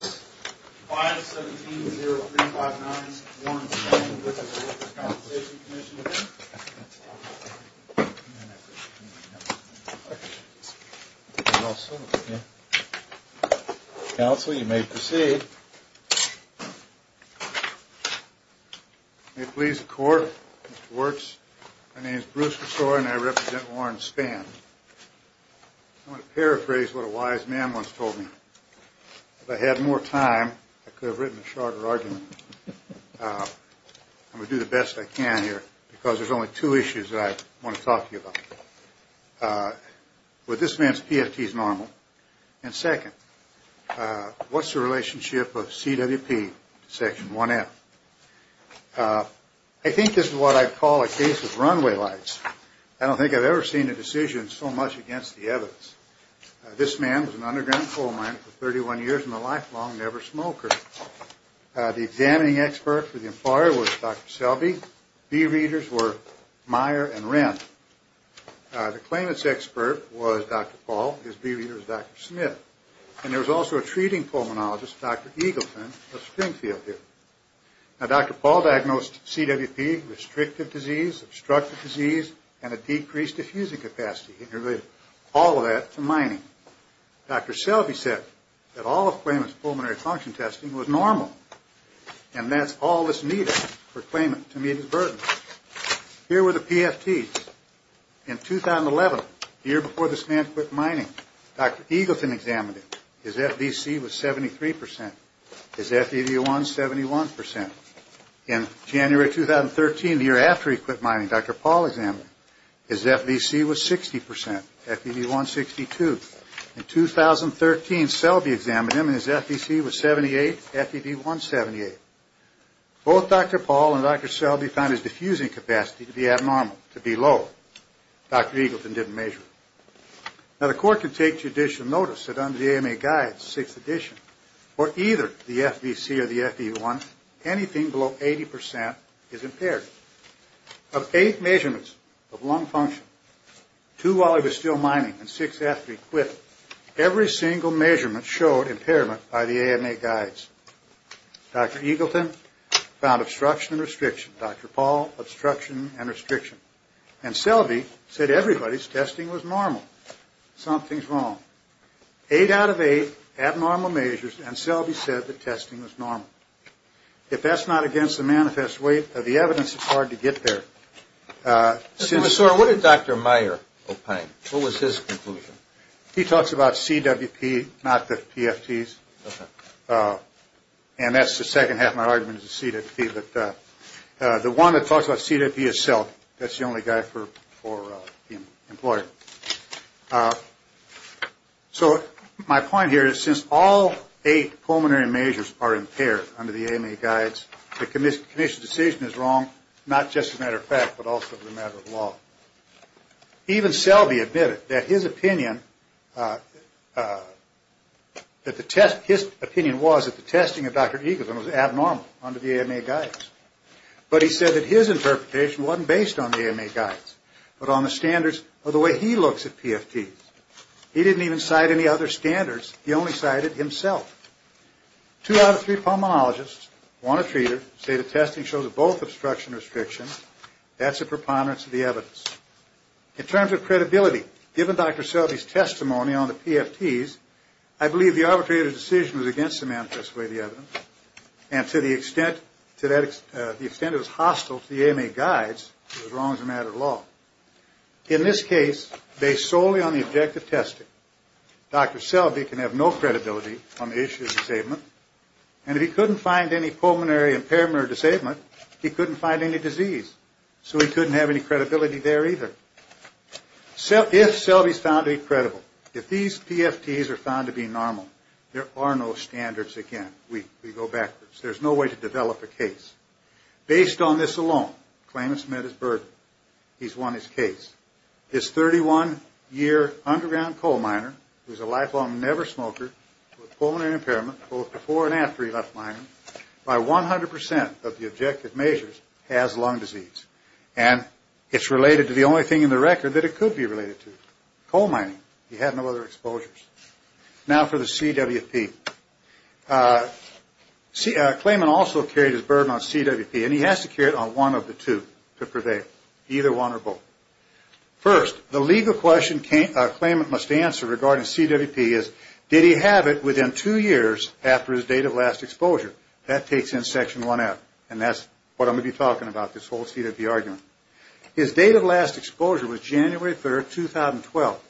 5-17-0359 Warren Spann v. The Workers' Compensation Commission Counsel, you may proceed. May it please the Court, Mr. Wirtz, my name is Bruce Cressore and I represent Warren Spann. I want to paraphrase what a wise man once told me. If I had more time, I could have written a shorter argument. I'm going to do the best I can here because there's only two issues that I want to talk to you about. Well, this man's PFT is normal. And second, what's the relationship of CWP to Section 1F? I think this is what I'd call a case of runway lights. I don't think I've ever seen a decision so much against the evidence. This man was an underground coal miner for 31 years and a lifelong never smoker. The examining expert for the employer was Dr. Selby. Bee readers were Meyer and Wren. The claimant's expert was Dr. Paul. His bee reader was Dr. Smith. And there was also a treating pulmonologist, Dr. Eagleton of Springfield here. Now, Dr. Paul diagnosed CWP, restrictive disease, obstructive disease, and a decreased diffusing capacity. He related all of that to mining. Dr. Selby said that all of the claimant's pulmonary function testing was normal. And that's all that's needed for a claimant to meet his burden. Here were the PFTs. In 2011, the year before this man quit mining, Dr. Eagleton examined it. His FDC was 73%. His FDD was 71%. In January 2013, the year after he quit mining, Dr. Paul examined him. His FDC was 60%. FDD 162. In 2013, Selby examined him, and his FDC was 78. FDD 178. Both Dr. Paul and Dr. Selby found his diffusing capacity to be abnormal, to be low. Dr. Eagleton didn't measure it. Now, the court could take judicial notice that under the AMA guides, 6th edition, for either the FDC or the FD1, anything below 80% is impaired. Of eight measurements of lung function, two while he was still mining, and six after he quit, every single measurement showed impairment by the AMA guides. Dr. Eagleton found obstruction and restriction. Dr. Paul, obstruction and restriction. And Selby said everybody's testing was normal. Something's wrong. Eight out of eight abnormal measures, and Selby said the testing was normal. If that's not against the manifest weight of the evidence, it's hard to get there. What did Dr. Meyer opine? What was his conclusion? He talks about CWP, not the PFTs. And that's the second half of my argument is the CWP. The one that talks about CWP is Selby. That's the only guy for the employer. So my point here is since all eight pulmonary measures are impaired under the AMA guides, the commission's decision is wrong, not just as a matter of fact, but also as a matter of law. Even Selby admitted that his opinion was that the testing of Dr. Eagleton was abnormal under the AMA guides. But he said that his interpretation wasn't based on the AMA guides, but on the standards of the way he looks at PFTs. He didn't even cite any other standards. He only cited himself. Two out of three pulmonologists, one a treater, say the testing shows both obstruction and restriction. That's a preponderance of the evidence. In terms of credibility, given Dr. Selby's testimony on the PFTs, I believe the arbitrator's decision was against the manifest weight of the evidence and to the extent it was hostile to the AMA guides, it was wrong as a matter of law. In this case, based solely on the objective testing, Dr. Selby can have no credibility on the issue of disablement. And if he couldn't find any pulmonary impairment or disablement, he couldn't find any disease. So he couldn't have any credibility there either. If Selby's found to be credible, if these PFTs are found to be normal, there are no standards again. We go backwards. There's no way to develop a case. Based on this alone, claimant's met his burden. He's won his case. This 31-year underground coal miner who's a lifelong never smoker with pulmonary impairment, both before and after he left mining, by 100% of the objective measures has lung disease. And it's related to the only thing in the record that it could be related to, coal mining. He had no other exposures. Now for the CWP. Claimant also carried his burden on CWP, and he has to carry it on one of the two to prevail, either one or both. First, the legal question claimant must answer regarding CWP is, did he have it within two years after his date of last exposure? That takes in Section 1F, and that's what I'm going to be talking about, this whole CWP argument. His date of last exposure was January 3, 2012.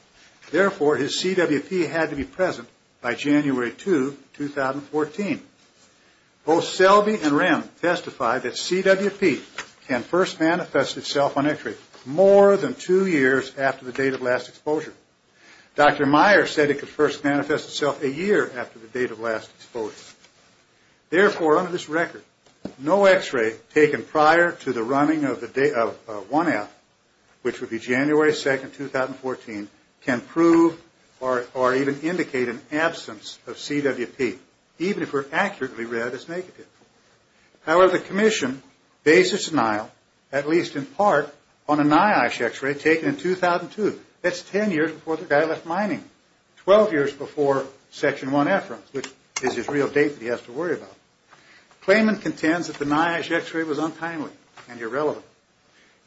Therefore, his CWP had to be present by January 2, 2014. Both Selby and Rem testified that CWP can first manifest itself on x-ray more than two years after the date of last exposure. Dr. Meyer said it could first manifest itself a year after the date of last exposure. Therefore, under this record, no x-ray taken prior to the running of 1F, which would be January 2, 2014, can prove or even indicate an absence of CWP, even if it were accurately read as negative. However, the Commission based its denial, at least in part, on a NIOSH x-ray taken in 2002. That's 10 years before the guy left mining, 12 years before Section 1F runs, which is his real date that he has to worry about. Claimant contends that the NIOSH x-ray was untimely and irrelevant.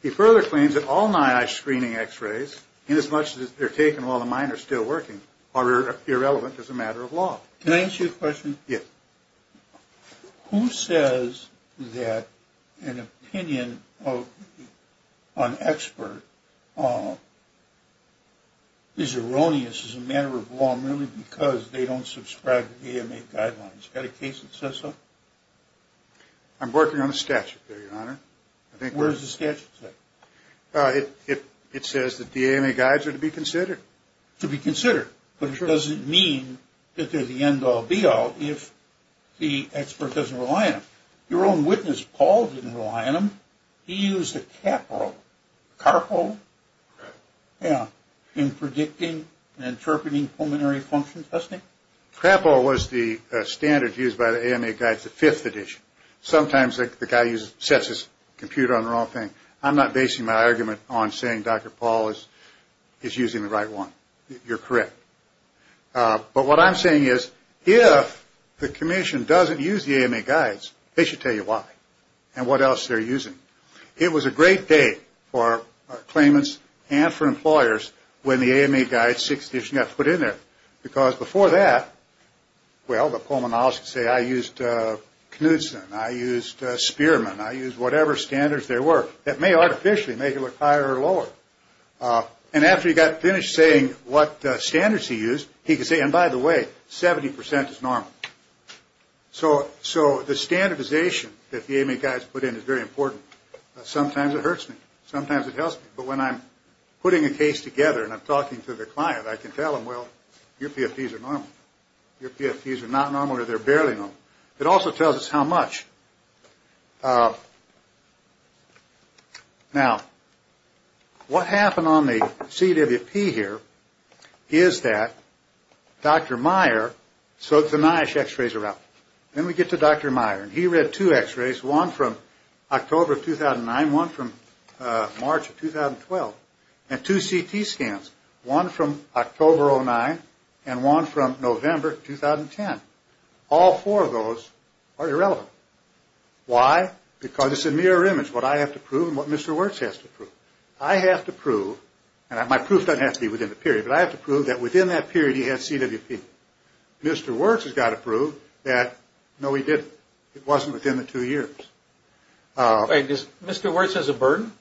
He further claims that all NIOSH screening x-rays, inasmuch as they're taken while the mine are still working, are irrelevant as a matter of law. Can I ask you a question? Yes. Who says that an opinion of an expert is erroneous as a matter of law merely because they don't subscribe to the AMA guidelines? Is there a case that says so? I'm working on a statute there, Your Honor. Where does the statute say? It says that the AMA guides are to be considered. But it doesn't mean that they're the end-all, be-all if the expert doesn't rely on them. Your own witness, Paul, didn't rely on them. He used a CAPRO, CARPO, in predicting and interpreting pulmonary function testing. CAPRO was the standard used by the AMA guides, the fifth edition. Sometimes the guy sets his computer on the wrong thing. I'm not basing my argument on saying Dr. Paul is using the right one. You're correct. But what I'm saying is if the commission doesn't use the AMA guides, they should tell you why and what else they're using. It was a great day for claimants and for employers when the AMA guides, sixth edition, got put in there. Because before that, well, the pulmonary analysts would say, I used Knudsen, I used Spearman, I used whatever standards there were that may artificially make it look higher or lower. And after he got finished saying what standards he used, he could say, and by the way, 70% is normal. So the standardization that the AMA guides put in is very important. Sometimes it hurts me. Sometimes it helps me. But when I'm putting a case together and I'm talking to the client, I can tell them, well, your PFPs are normal. Your PFPs are not normal or they're barely normal. It also tells us how much. Now, what happened on the CWP here is that Dr. Meyer, so the NIOSH x-rays are out. Then we get to Dr. Meyer. And he read two x-rays, one from October of 2009, one from March of 2012, and two CT scans, one from October of 2009 and one from November 2010. All four of those are irrelevant. Why? Because it's a mirror image, what I have to prove and what Mr. Wirtz has to prove. I have to prove, and my proof doesn't have to be within the period, but I have to prove that within that period he had CWP. Mr. Wirtz has got to prove that, no, he didn't. It wasn't within the two years. Wait, does Mr. Wirtz has a burden?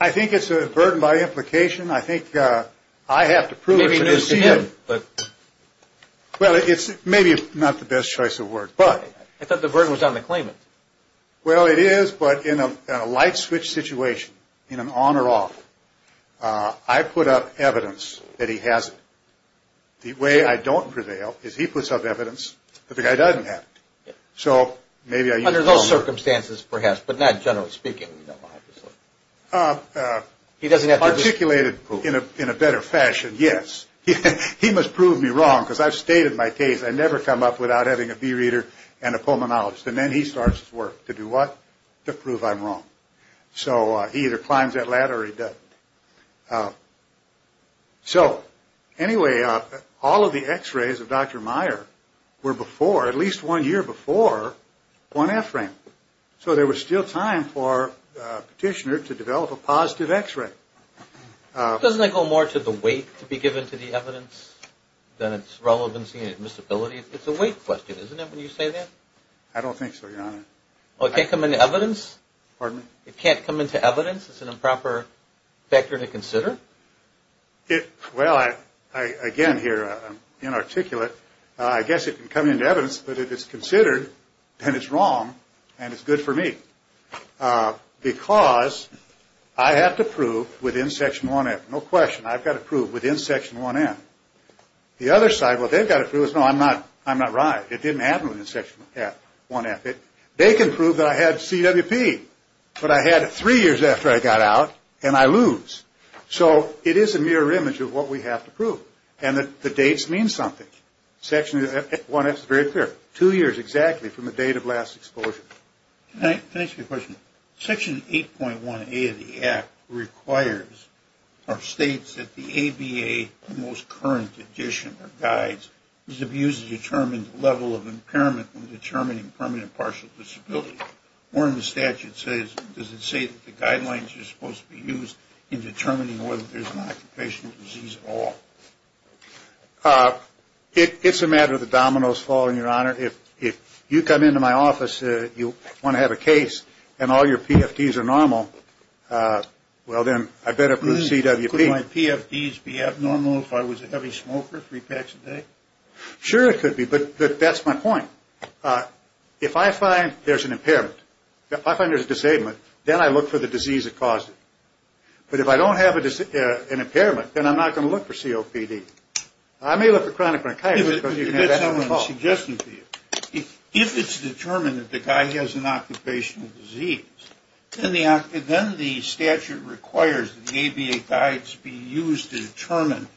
I think it's a burden by implication. I have to prove it. Well, maybe it's not the best choice of words. I thought the burden was on the claimant. Well, it is, but in a light switch situation, in an on or off, I put up evidence that he has it. The way I don't prevail is he puts up evidence that the guy doesn't have it. Under those circumstances, perhaps, but not generally speaking. He doesn't have to prove it. Articulated in a better fashion, yes. He must prove me wrong because I've stated my case. I never come up without having a bee reader and a pulmonologist, and then he starts his work. To do what? To prove I'm wrong. So he either climbs that ladder or he doesn't. So, anyway, all of the x-rays of Dr. Meyer were before, at least one year before, one f-rank. So there was still time for Petitioner to develop a positive x-ray. Doesn't it go more to the weight to be given to the evidence than its relevancy and admissibility? It's a weight question, isn't it, when you say that? I don't think so, Your Honor. Well, it can't come into evidence? Pardon me? It can't come into evidence? It's an improper factor to consider? Well, again, here, I'm inarticulate. I guess it can come into evidence, but if it's considered, then it's wrong and it's good for me. Because I have to prove within Section 1F, no question, I've got to prove within Section 1F. The other side, what they've got to prove is, no, I'm not right. It didn't happen within Section 1F. They can prove that I had CWP, but I had it three years after I got out, and I lose. So it is a mirror image of what we have to prove, and that the dates mean something. Section 1F is very clear. Two years exactly from the date of last exposure. Can I ask you a question? Section 8.1A of the Act requires or states that the ABA, the most current edition or guides, is abused to determine the level of impairment when determining permanent partial disability. One of the statutes says, does it say that the guidelines are supposed to be used in determining whether there's an occupational disease at all? It's a matter of the dominoes falling, Your Honor. If you come into my office, you want to have a case, and all your PFDs are normal, well, then I better prove CWP. Could my PFDs be abnormal if I was a heavy smoker, three packs a day? Sure it could be, but that's my point. Your Honor, if I find there's an impairment, if I find there's a disablement, then I look for the disease that caused it. But if I don't have an impairment, then I'm not going to look for COPD. I may look for chronic bronchitis because you can have that on the call. If it's determined that the guy has an occupational disease, then the statute requires that the ABA guides be used to determine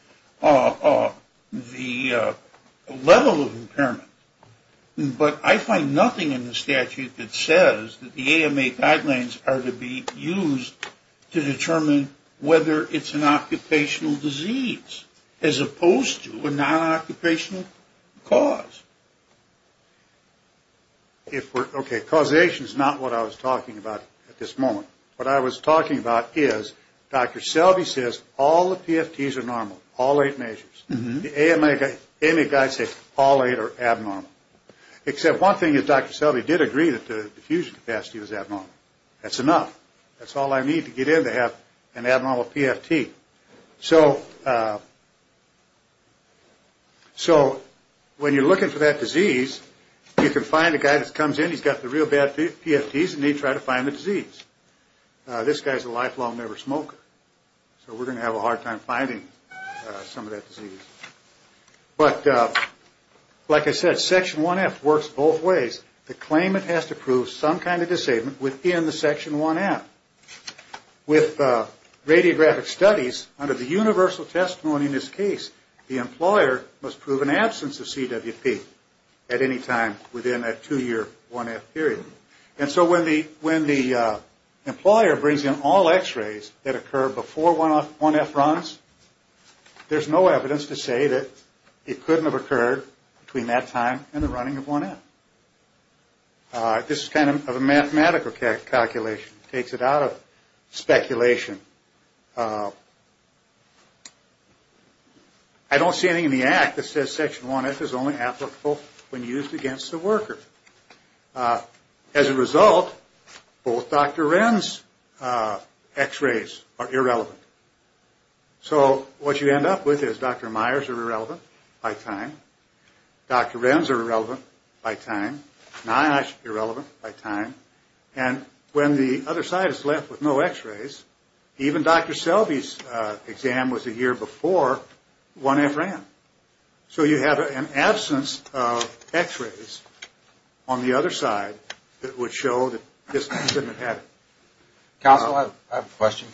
the level of impairment. But I find nothing in the statute that says that the AMA guidelines are to be used to determine whether it's an occupational disease, as opposed to a non-occupational cause. Okay, causation is not what I was talking about at this moment. What I was talking about is Dr. Selby says all the PFDs are normal, all eight measures. The AMA guides say all eight are abnormal. Except one thing is Dr. Selby did agree that the diffusion capacity was abnormal. That's enough. That's all I need to get in to have an abnormal PFT. So when you're looking for that disease, you can find a guy that comes in, he's got the real bad PFDs, and they try to find the disease. This guy's a lifelong never smoker. So we're going to have a hard time finding some of that disease. But like I said, Section 1F works both ways. The claimant has to prove some kind of disabling within the Section 1F. With radiographic studies, under the universal testimony in this case, the employer must prove an absence of CWP at any time within that two-year 1F period. And so when the employer brings in all X-rays that occur before 1F runs, there's no evidence to say that it couldn't have occurred between that time and the running of 1F. This is kind of a mathematical calculation. It takes it out of speculation. I don't see anything in the Act that says Section 1F is only applicable when used against the worker. As a result, both Dr. Wren's X-rays are irrelevant. So what you end up with is Dr. Meyer's are irrelevant by time. Dr. Wren's are irrelevant by time. NIOSH is irrelevant by time. And when the other side is left with no X-rays, even Dr. Selby's exam was a year before 1F ran. So you have an absence of X-rays on the other side that would show that this incident happened. Counsel, I have a question.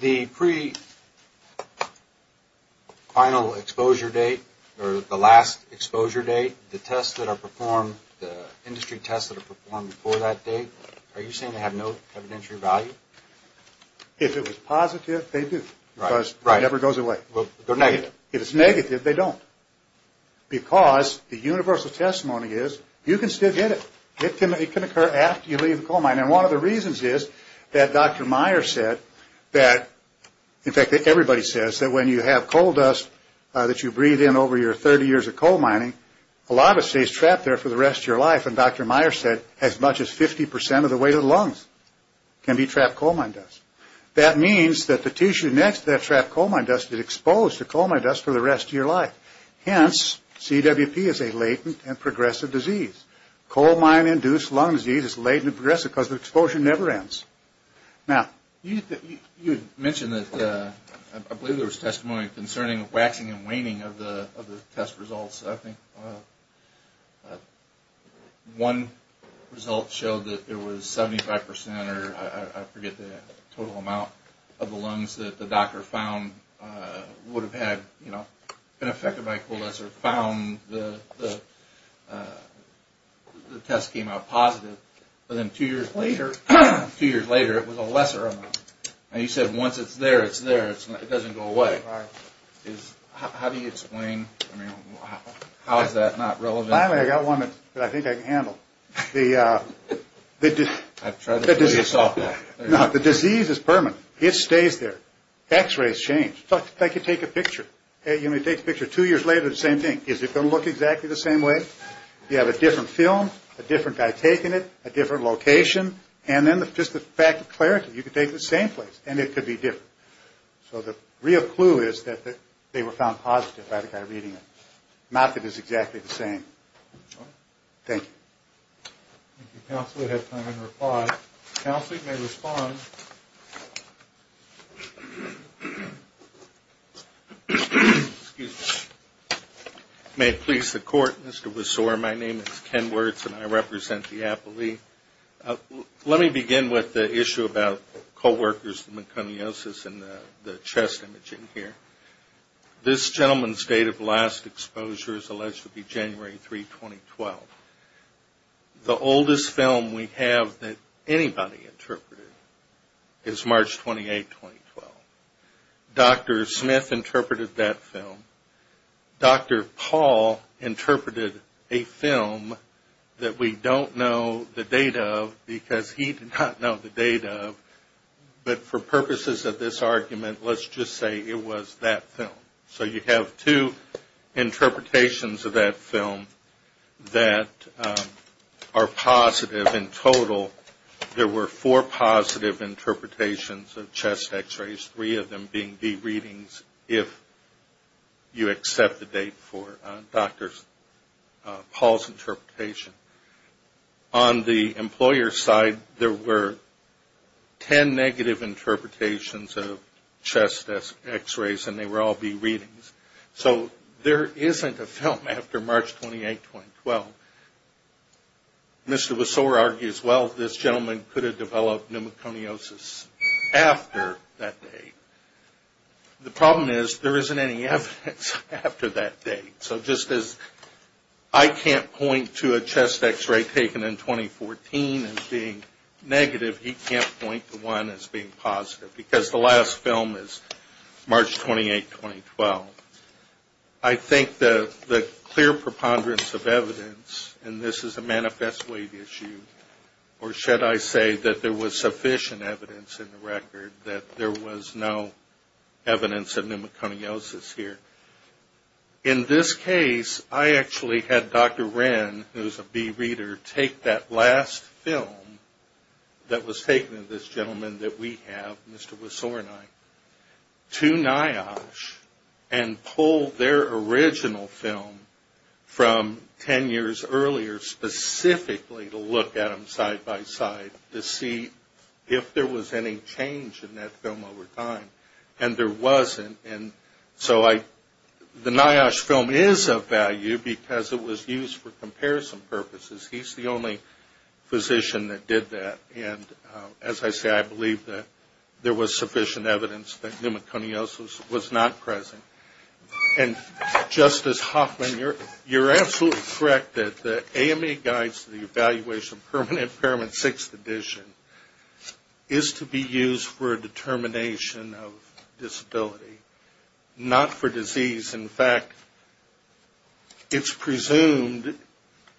The pre-final exposure date or the last exposure date, the tests that are performed, the industry tests that are performed before that date, are you saying they have no evidentiary value? If it was positive, they do because it never goes away. If it's negative, they don't because the universal testimony is you can still get it. It can occur after you leave the coal mine. And one of the reasons is that Dr. Meyer said that, in fact everybody says that when you have coal dust that you breathe in over your 30 years of coal mining, a lot of it stays trapped there for the rest of your life. And Dr. Meyer said as much as 50% of the weight of the lungs can be trapped coal mine dust. That means that the tissue next to that trapped coal mine dust is exposed to coal mine dust for the rest of your life. Hence, CWP is a latent and progressive disease. Coal mine induced lung disease is latent and progressive because the exposure never ends. Now, you mentioned that I believe there was testimony concerning waxing and waning of the test results. I think one result showed that there was 75% or I forget the total amount of the lungs that the doctor found would have had been affected by coal dust or found the test came out positive. But then two years later, it was a lesser amount. Now, you said once it's there, it's there. It doesn't go away. How do you explain? I mean, how is that not relevant? Finally, I got one that I think I can handle. The disease is permanent. It stays there. X-rays change. In fact, if I could take a picture. You know, you take a picture two years later, it's the same thing. Is it going to look exactly the same way? Do you have a different film, a different guy taking it, a different location? And then just the fact of clarity. You could take it to the same place and it could be different. So the real clue is that they were found positive by the guy reading it. Not that it's exactly the same. Thank you. Thank you, counsel. We have time to reply. Counsel, you may respond. Excuse me. May it please the court, Mr. Wiseauer. My name is Ken Wirtz and I represent the appellee. Let me begin with the issue about co-workers, the meconiosis and the chest imaging here. This gentleman's date of last exposure is alleged to be January 3, 2012. The oldest film we have that anybody interpreted is March 28, 2012. Dr. Smith interpreted that film. Dr. Paul interpreted a film that we don't know the date of because he did not know the date of. But for purposes of this argument, let's just say it was that film. So you have two interpretations of that film that are positive in total. There were four positive interpretations of chest X-rays, three of them being B readings, if you accept the date for Dr. Paul's interpretation. On the employer's side, there were 10 negative interpretations of chest X-rays, and they were all B readings. So there isn't a film after March 28, 2012. Mr. Wiseauer argues, well, this gentleman could have developed meconiosis after that date. The problem is there isn't any evidence after that date. So just as I can't point to a chest X-ray taken in 2014 as being negative, he can't point to one as being positive, because the last film is March 28, 2012. I think the clear preponderance of evidence, and this is a manifest weight issue, or should I say that there was sufficient evidence in the record that there was no evidence of In this case, I actually had Dr. Wren, who is a B reader, take that last film that was taken of this gentleman that we have, Mr. Wiseauer and I, to NIOSH and pull their original film from 10 years earlier, specifically to look at them side by side to see if there was any change in that film over time. And there wasn't. So the NIOSH film is of value because it was used for comparison purposes. He's the only physician that did that. And as I say, I believe that there was sufficient evidence that meconiosis was not present. And Justice Hoffman, you're absolutely correct that the AMA guides to the evaluation of permanent impairment 6th edition is to be used for a determination of disability, not for disease. In fact, it's presumed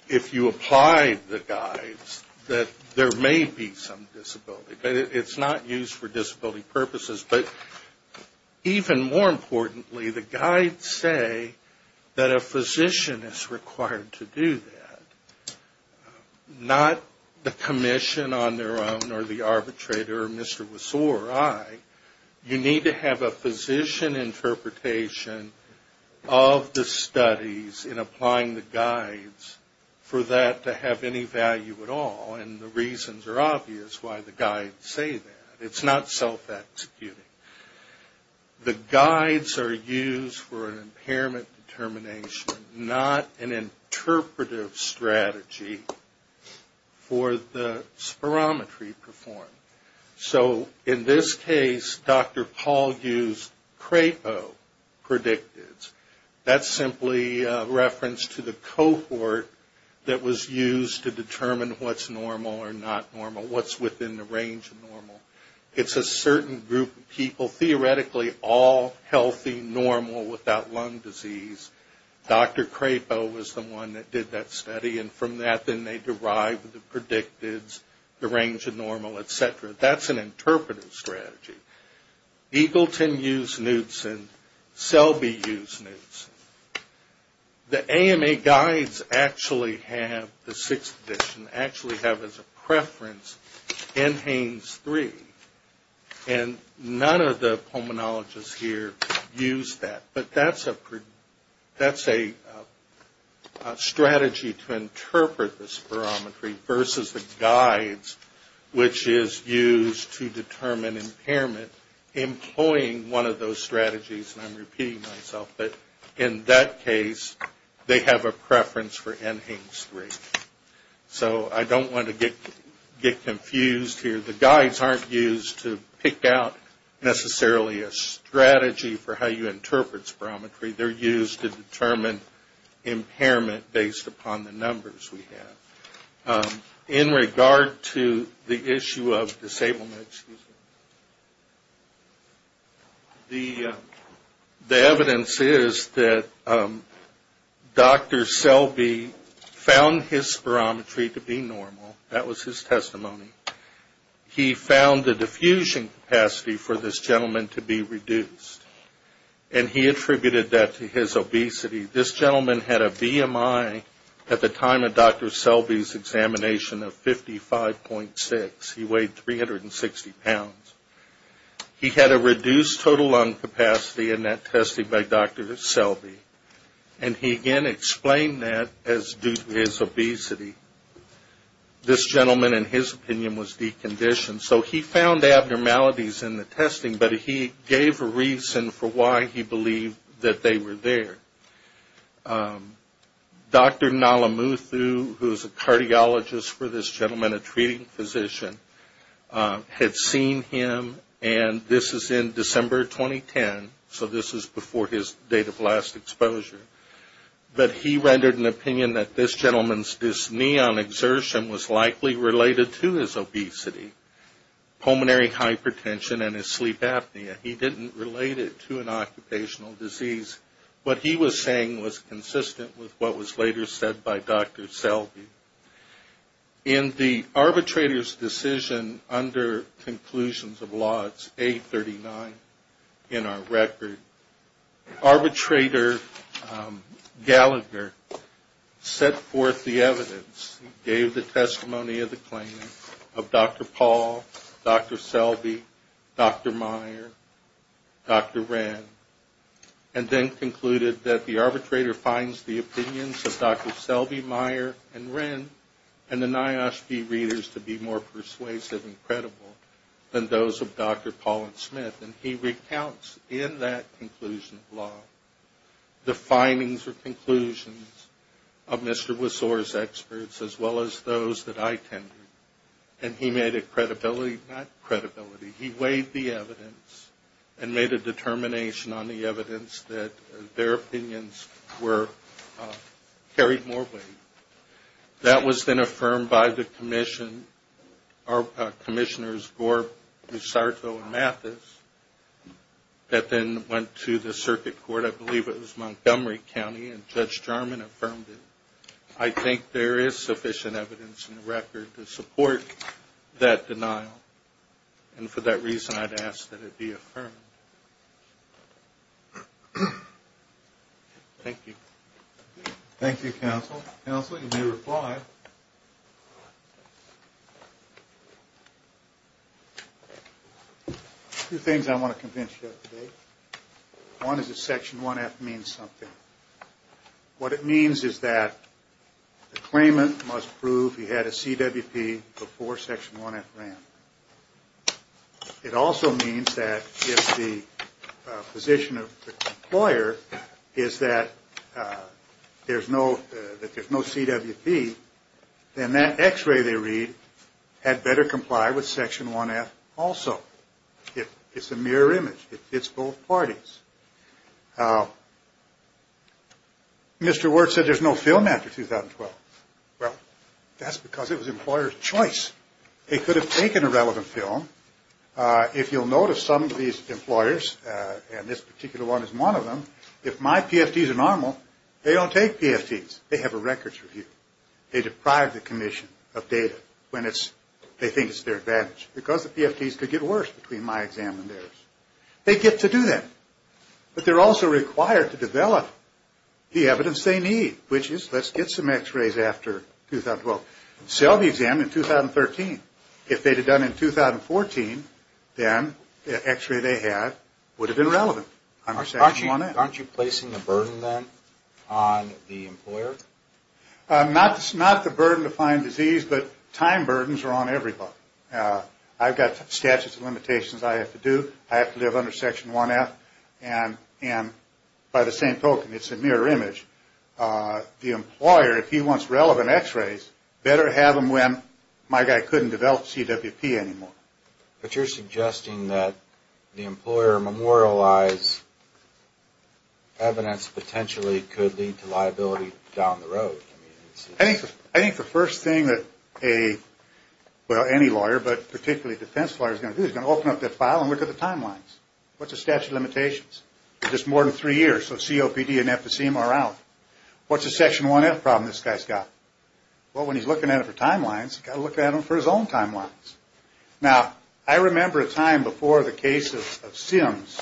if you apply the guides that there may be some disability. But it's not used for disability purposes. But even more importantly, the guides say that a physician is required to do that, not the commission on their own or the arbitrator or Mr. Wiseauer or I. You need to have a physician interpretation of the studies in applying the guides for that to have any value at all. And the reasons are obvious why the guides say that. It's not self-executing. The guides are used for an impairment determination, not an interpretive strategy for the spirometry performed. So in this case, Dr. Paul used CRAPO predictives. That's simply a reference to the cohort that was used to determine what's normal or not normal, what's within the range of normal. It's a certain group of people, theoretically all healthy, normal, without lung disease. Dr. CRAPO was the one that did that study. And from that, then they derived the predictives, the range of normal, et cetera. That's an interpretive strategy. Eagleton used Newtson. Selby used Newtson. The AMA guides actually have the sixth edition, actually have as a preference NHANES-3. And none of the pulmonologists here use that. But that's a strategy to interpret the spirometry versus the guides, which is used to determine impairment, employing one of those strategies. And I'm repeating myself. But in that case, they have a preference for NHANES-3. So I don't want to get confused here. The guides aren't used to pick out necessarily a strategy for how you interpret spirometry. They're used to determine impairment based upon the numbers we have. In regard to the issue of disablement, the evidence is that Dr. Selby found his spirometry to be normal. That was his testimony. He found the diffusion capacity for this gentleman to be reduced. And he attributed that to his obesity. This gentleman had a BMI at the time of Dr. Selby's examination of 55.6. He weighed 360 pounds. He had a reduced total lung capacity in that testing by Dr. Selby. And he again explained that as due to his obesity. This gentleman, in his opinion, was deconditioned. So he found abnormalities in the testing. But he gave a reason for why he believed that they were there. Dr. Nalamuthu, who is a cardiologist for this gentleman, a treating physician, had seen him. And this is in December 2010. So this is before his date of last exposure. But he rendered an opinion that this gentleman's dyspnea on exertion was likely related to his obesity. Pulmonary hypertension and his sleep apnea. He didn't relate it to an occupational disease. What he was saying was consistent with what was later said by Dr. Selby. In the arbitrator's decision under Conclusions of Law, it's 839 in our record. Arbitrator Gallagher set forth the evidence. He gave the testimony of the claimant of Dr. Paul, Dr. Selby, Dr. Meyer, Dr. Wren. And then concluded that the arbitrator finds the opinions of Dr. Selby, Meyer, and Wren, and the NIOSH-B readers to be more persuasive and credible than those of Dr. Paul and Smith. And he recounts in that Conclusion of Law the findings or conclusions of Mr. Wiseau's experts, as well as those that I tended. And he made a credibility, not credibility, he weighed the evidence and made a determination on the evidence that their opinions carried more weight. That was then affirmed by the commissioners, Gorb, Risarto, and Mathis, that then went to the circuit court. I believe it was Montgomery County, and Judge Jarman affirmed it. I think there is sufficient evidence in the record to support that denial. And for that reason, I'd ask that it be affirmed. Thank you. Thank you, Counsel. Counsel, you may reply. Two things I want to convince you of today. One is that Section 1F means something. What it means is that the claimant must prove he had a CWP before Section 1F ran. It also means that if the position of the employer is that there's no CWP, then that X-ray they read had better comply with Section 1F also. It's a mirror image. It fits both parties. Mr. Wert said there's no film after 2012. Well, that's because it was the employer's choice. They could have taken a relevant film. If you'll notice, some of these employers, and this particular one is one of them, if my PFDs are normal, they don't take PFDs. They have a records review. They deprive the commission of data when they think it's their advantage because the PFDs could get worse between my exam and theirs. They get to do that. But they're also required to develop the evidence they need, which is let's get some X-rays after 2012. Sell the exam in 2013. If they'd have done it in 2014, then the X-ray they had would have been relevant under Section 1F. Aren't you placing a burden then on the employer? Not the burden to find disease, but time burdens are on everybody. I've got statutes of limitations I have to do. I have to live under Section 1F. And by the same token, it's a mirror image. The employer, if he wants relevant X-rays, better have them when my guy couldn't develop CWP anymore. But you're suggesting that the employer memorialize evidence potentially could lead to liability down the road. I think the first thing that any lawyer, but particularly a defense lawyer, is going to do is open up that file and look at the timelines. What's the statute of limitations? It's just more than three years, so COPD, NF to CMR out. What's the Section 1F problem this guy's got? Well, when he's looking at it for timelines, he's got to look at it for his own timelines. Now, I remember a time before the case of Sims,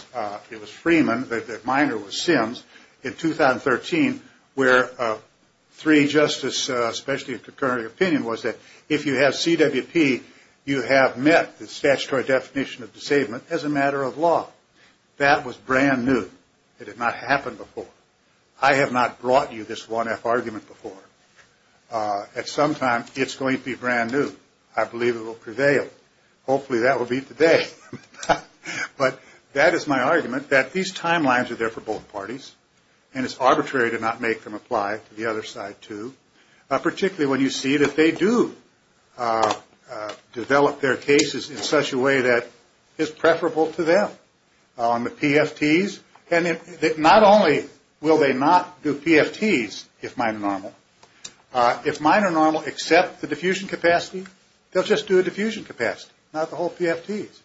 it was Freeman, the minor was Sims, in 2013, where three justices, especially a concurring opinion, was that if you have CWP, you have met the statutory definition of disablement as a matter of law. That was brand new. It had not happened before. I have not brought you this 1F argument before. At some time, it's going to be brand new. I believe it will prevail. Hopefully that will be today. But that is my argument, that these timelines are there for both parties, and it's arbitrary to not make them apply to the other side too, particularly when you see that they do develop their cases in such a way that is preferable to them. On the PFTs, not only will they not do PFTs, if mine are normal, if mine are normal except the diffusion capacity, they'll just do a diffusion capacity, not the whole PFTs.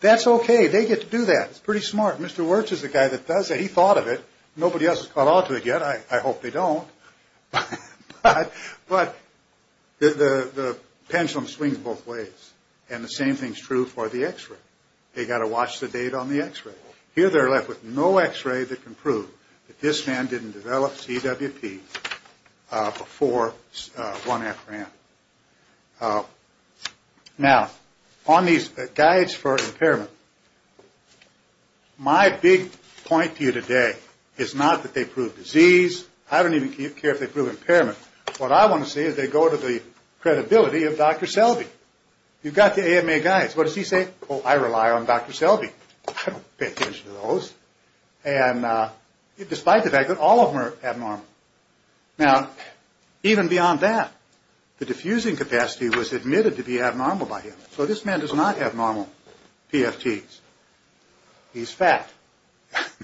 That's okay. They get to do that. It's pretty smart. Mr. Wirtz is the guy that does it. He thought of it. Nobody else has caught on to it yet. I hope they don't. But the pendulum swings both ways, and the same thing is true for the X-ray. They've got to watch the data on the X-ray. Here they're left with no X-ray that can prove that this man didn't develop CWP before 1F ran. Now, on these guides for impairment, my big point to you today is not that they prove disease. I don't even care if they prove impairment. What I want to see is they go to the credibility of Dr. Selby. You've got the AMA guides. What does he say? Oh, I rely on Dr. Selby. I don't pay attention to those. And despite the fact that all of them are abnormal. Now, even beyond that, the diffusing capacity was admitted to be abnormal by him. So this man does not have normal PFTs. He's fat.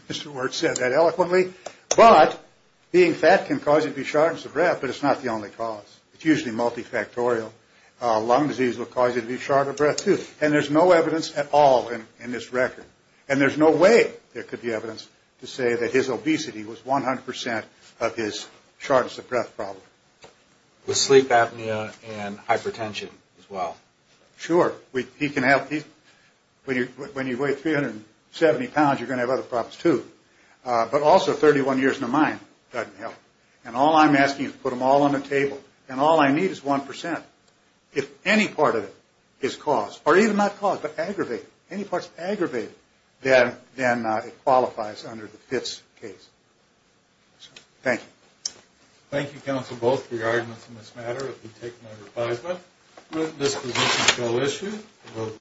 Mr. Wirtz said that eloquently. But being fat can cause you to be short of breath, but it's not the only cause. It's usually multifactorial. Lung disease will cause you to be short of breath, too. And there's no evidence at all in this record. And there's no way there could be evidence to say that his obesity was 100% of his shortness of breath problem. With sleep apnea and hypertension as well. Sure. He can help. When you weigh 370 pounds, you're going to have other problems, too. But also, 31 years in a mine doesn't help. And all I'm asking is to put them all on the table. And all I need is 1%. If any part of it is caused, or even not caused, but aggravated, any part is aggravated, then it qualifies under the PFTs case. Thank you. Thank you, counsel, both for your arguments in this matter. I'll be taking my replies now. This position shall issue.